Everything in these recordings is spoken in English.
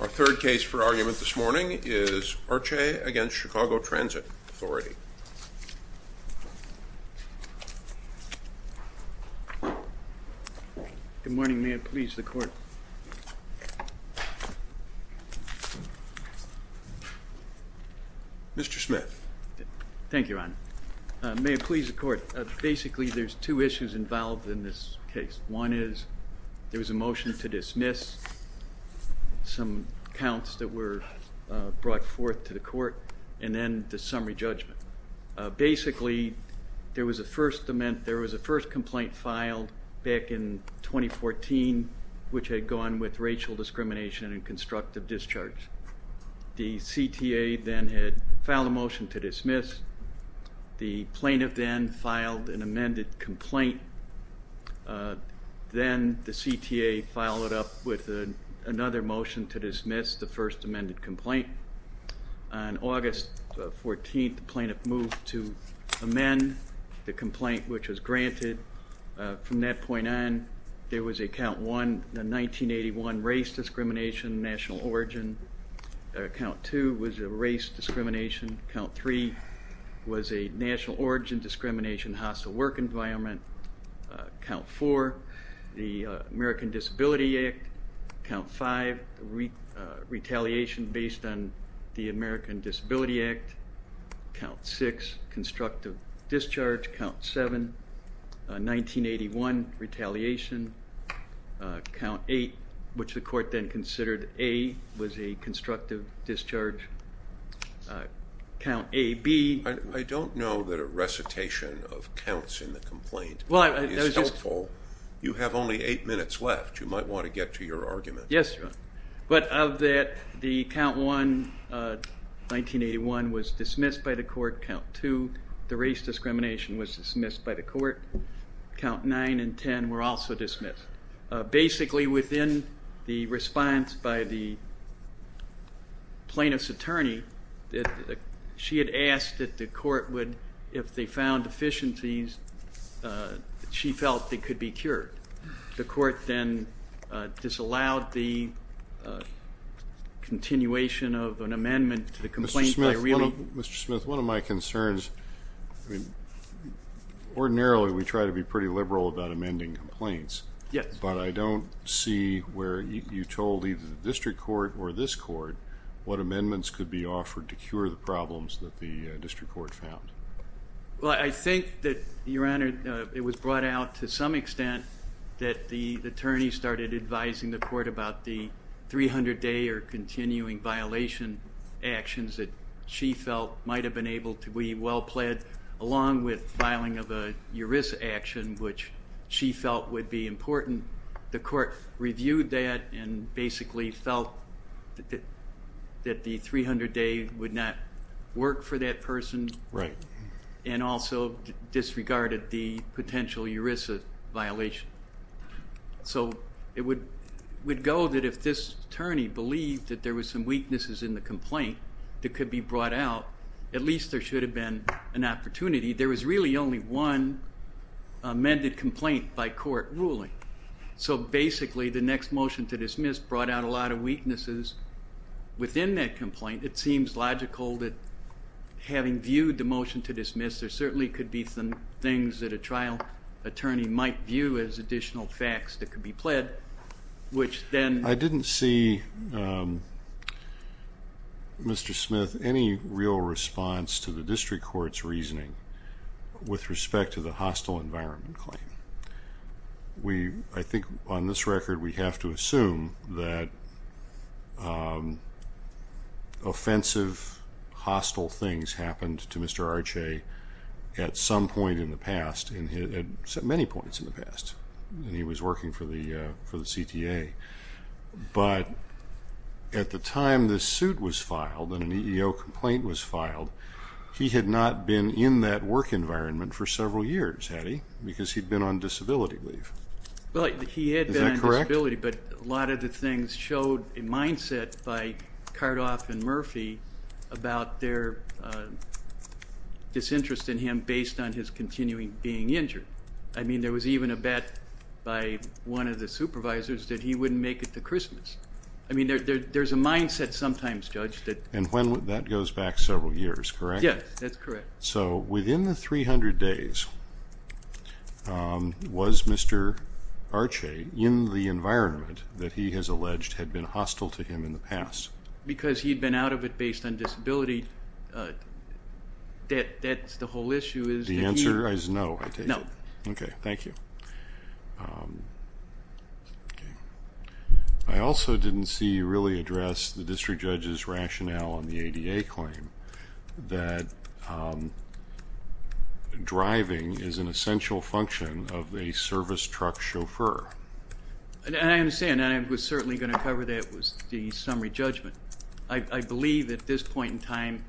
Our third case for argument this morning is Arce v. Chicago Transit Authority. Good morning. May it please the Court. Mr. Smith. Thank you, Your Honor. May it please the Court. Basically, there's two issues involved in this case. One is, there was a motion to dismiss some counts that were brought forth to the Court, and then the summary judgment. Basically, there was a first amendment, there was a first complaint filed back in 2014, which had gone with racial discrimination and constructive discharge. The CTA then had filed a motion to dismiss. The plaintiff then filed an amended complaint. Then the CTA followed up with another motion to dismiss the first amended complaint. On August 14th, the plaintiff moved to amend the complaint, which was granted. From that point on, there was a count 1, the 1981 race discrimination, national origin. Count 2 was a race discrimination. Count 3 was a national origin discrimination, hostile work environment. Count 4, the American Disability Act. Count 5, retaliation based on the American Disability Act. Count 6, constructive discharge. Count 7, 1981 retaliation. Count 8, which the Court then considered A, was a constructive discharge. Count A, B. I don't know that a recitation of counts in the complaint is helpful. You have only eight minutes left. You might want to get to your argument. Yes, but of that, the count 1, 1981, was dismissed by the Court. Count 2, the race discrimination was dismissed by the Court. Count 9 and 10 were also dismissed. Basically, within the court, if they found deficiencies, she felt they could be cured. The Court then disallowed the continuation of an amendment to the complaint by really... Mr. Smith, one of my concerns, ordinarily we try to be pretty liberal about amending complaints, but I don't see where you told either the district court or this court what the court found. Well, I think that, Your Honor, it was brought out to some extent that the attorney started advising the court about the 300-day or continuing violation actions that she felt might have been able to be well-pled, along with filing of a ERISA action, which she felt would be important. The court reviewed that and basically felt that the 300-day would not work for that person, and also disregarded the potential ERISA violation. So it would go that if this attorney believed that there were some weaknesses in the complaint that could be brought out, at least there should have been an opportunity. There was really only one amended complaint by court ruling. So basically, the next motion to dismiss brought out a lot of weaknesses within that complaint. It seems logical that having viewed the motion to dismiss, there certainly could be some things that a trial attorney might view as additional facts that could be pled, which then... I didn't see, Mr. Smith, any real response to the district court's reasoning with respect to the hostile environment claim. I think on this record, we have to assume that offensive hostile things happened to Mr. Arce at some point in the past, at many points in the past, when he was working for the CTA. But at the time this suit was filed and an EEO complaint was filed, he had not been in that work environment for several years, had he? Because he'd been on disability leave. Well, he had been on disability, but a lot of the things showed a mindset by Cardoff and Murphy about their disinterest in him based on his continuing being injured. I mean, there was even a bet by one of the supervisors that he wouldn't make it to Christmas. I mean, there's a mindset sometimes, Judge, that... And that goes back several years, correct? Yes, that's correct. So within the 300 days, was Mr. Arce in the environment that he has alleged had been hostile to him in the past? Because he'd been out of it based on disability debt. That's the whole issue is... The answer is no, I take it. No. Okay, thank you. I also didn't see you really address the district judge's rationale for the ADA claim, that driving is an essential function of a service truck chauffeur. I understand, and I was certainly going to cover that with the summary judgment. I believe at this point in time,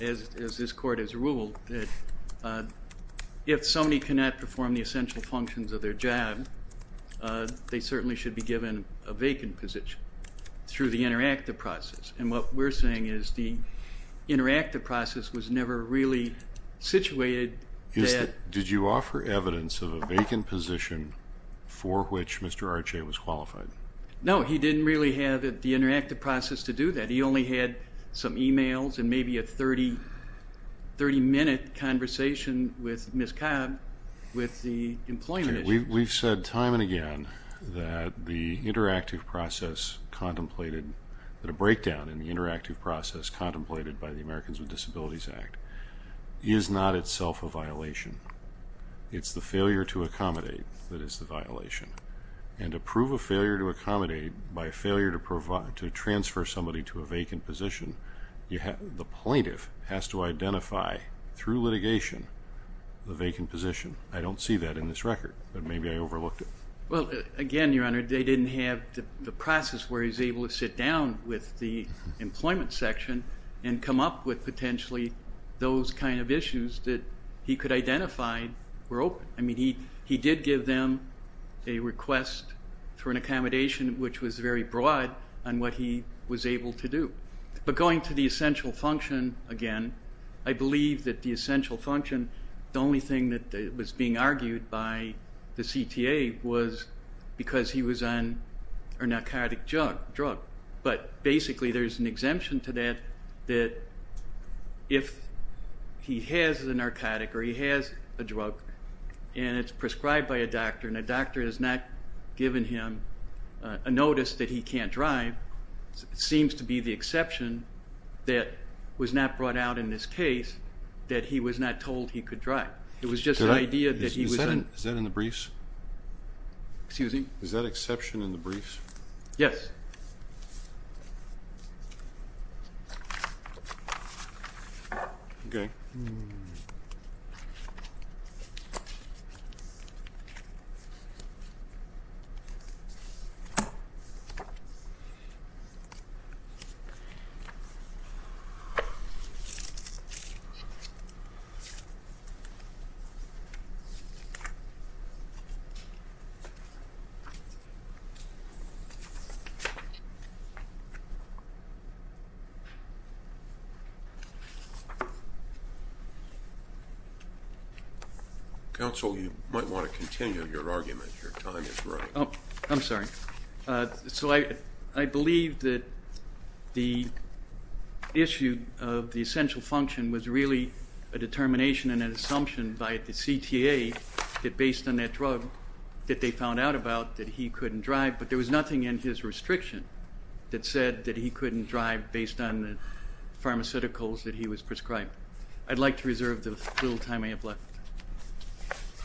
as this court has ruled, that if somebody cannot perform the essential functions of their job, they certainly should be given a vacant position through the interactive process. And what we're saying is the interactive process was never really situated that... Did you offer evidence of a vacant position for which Mr. Arce was qualified? No, he didn't really have the interactive process to do that. He only had some emails and maybe a 30-minute conversation with Ms. Cobb with the employment issue. We've said time and again that the interactive process contemplated, that a breakdown in the interactive process contemplated by the Americans with Disabilities Act is not itself a violation. It's the failure to accommodate that is the violation. And to prove a failure to accommodate by a failure to transfer somebody to a vacant position, the plaintiff has to be held accountable. But maybe I overlooked it. Well, again, Your Honor, they didn't have the process where he was able to sit down with the employment section and come up with potentially those kind of issues that he could identify were open. I mean, he did give them a request for an accommodation, which was very broad, on what he was able to do. But going to the essential function again, I believe that the essential function, the only thing that was being argued by the CTA was because he was on a narcotic drug. But basically there's an exemption to that, that if he has a narcotic or he has a drug and it's prescribed by a doctor and a doctor has not given him a notice that he can't drive, it seems to be the exception that was not brought out in this case, that he was not told he could drive. It was just an idea that he was... Is that in the briefs? Excuse me? Is that exception in the briefs? Yes. Okay. Hmm. Counsel, you might want to continue your argument. Your time is running. Oh, I'm sorry. So I believe that the issue of the essential function was really a determination and an assumption by the CTA that based on that drug that they found out about that he couldn't drive, but there was nothing in his restriction that said that he couldn't drive based on the pharmaceuticals that he was prescribed. I'd like to reserve the little time I have left.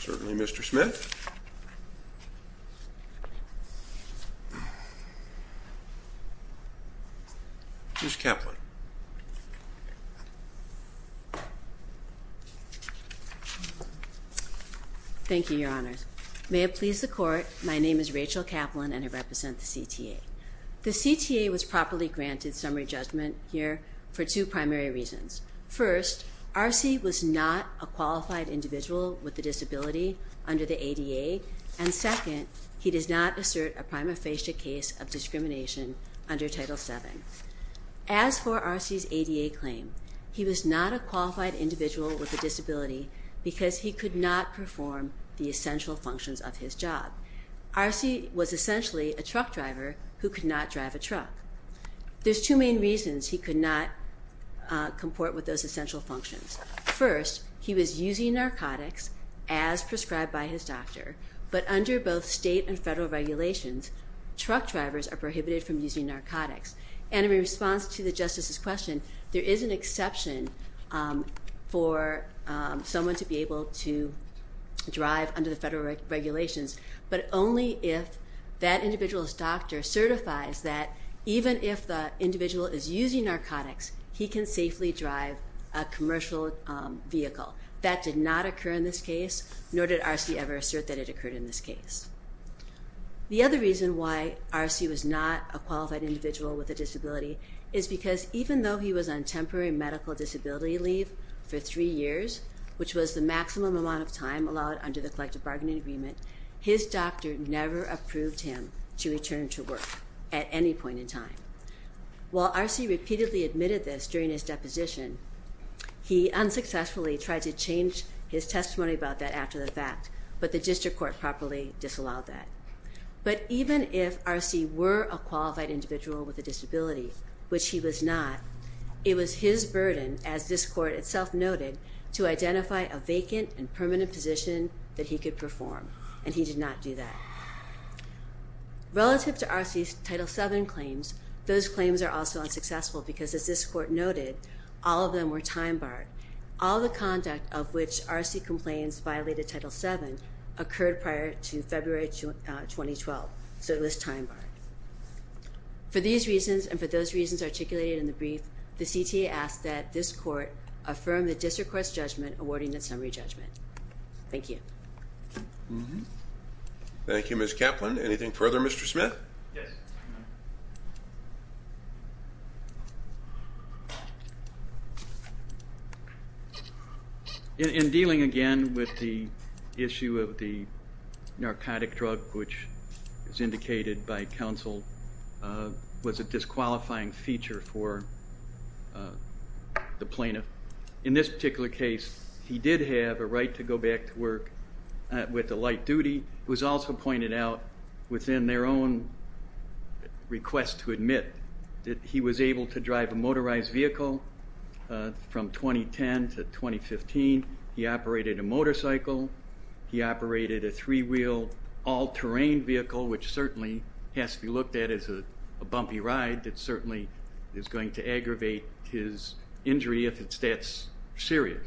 Certainly, Mr. Smith. Ms. Kaplan. Thank you, Your Honors. May it please the Court, my name is Rachel Kaplan and I represent the CTA. The CTA was properly granted summary judgment here for two primary reasons. First, Arce was not a qualified individual with a disability under the ADA, and second, he does not assert a prima facie case of discrimination under Title VII. As for Arce's ADA claim, he was not a qualified individual with a disability because he could not perform the essential function of a truck driver who could not drive a truck. There's two main reasons he could not comport with those essential functions. First, he was using narcotics as prescribed by his doctor, but under both state and federal regulations, truck drivers are prohibited from using narcotics. And in response to the Justice's question, there is an exception for someone to be able to his doctor certifies that even if the individual is using narcotics, he can safely drive a commercial vehicle. That did not occur in this case, nor did Arce ever assert that it occurred in this case. The other reason why Arce was not a qualified individual with a disability is because even though he was on temporary medical disability leave for three years, which was the maximum amount of time allowed under the collective bargaining agreement, his doctor never approved him to return to work at any point in time. While Arce repeatedly admitted this during his deposition, he unsuccessfully tried to change his testimony about that after the fact, but the district court properly disallowed that. But even if Arce were a qualified individual with a disability, which he was not, it was his burden, as this court itself noted, to identify a vacant and permanent position that he could perform, and he did not do that. Relative to Arce's Title VII claims, those claims are also unsuccessful because, as this court noted, all of them were time barred. All the conduct of which Arce complains violated Title VII occurred prior to February 2012, so it was time barred. For these reasons, and for those reasons articulated in the brief, the CTA asks that this court affirm the district court's judgment awarding its summary judgment. Thank you. Thank you, Ms. Kaplan. Anything further, Mr. Smith? Yes. In dealing again with the issue of the narcotic drug, which is indicated by counsel, was a disqualifying feature for the plaintiff. In this particular case, he did have a right to go back to work with the light duty. It was also pointed out within their own request to admit that he was able to drive a motorized vehicle from 2010 to 2015. He operated a motorcycle. He operated a three-wheel, all-terrain vehicle, which certainly has to be looked at as a bumpy ride that certainly is going to aggravate his injury if it's that serious.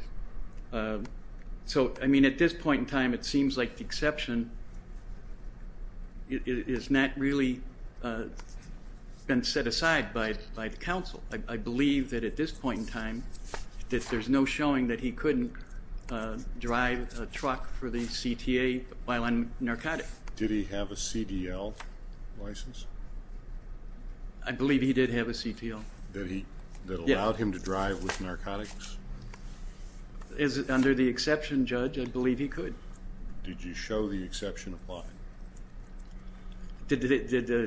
So, I mean, at this point in time, it seems like the exception is not really been set aside by the counsel. I believe that at this point in time that there's no showing that he couldn't drive a truck for the CTA while on narcotic. Did he have a CDL license? I believe he did have a CDL. That allowed him to drive with narcotics? Under the exception, Judge, I believe he could. Did you show the exception applied? Did the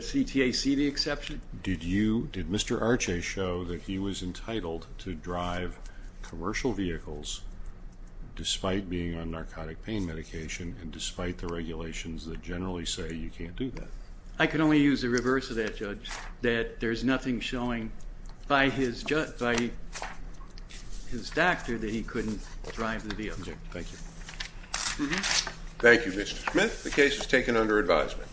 CTA see the exception? Did Mr. Arce show that he was entitled to drive commercial vehicles despite being on narcotic pain medication and despite the regulations that generally say you can't do that? I can only use the reverse of that, Judge, that there's nothing showing by his doctor that he couldn't drive the vehicle. Okay. Thank you. Thank you, Mr. Smith. The case is taken under advisement.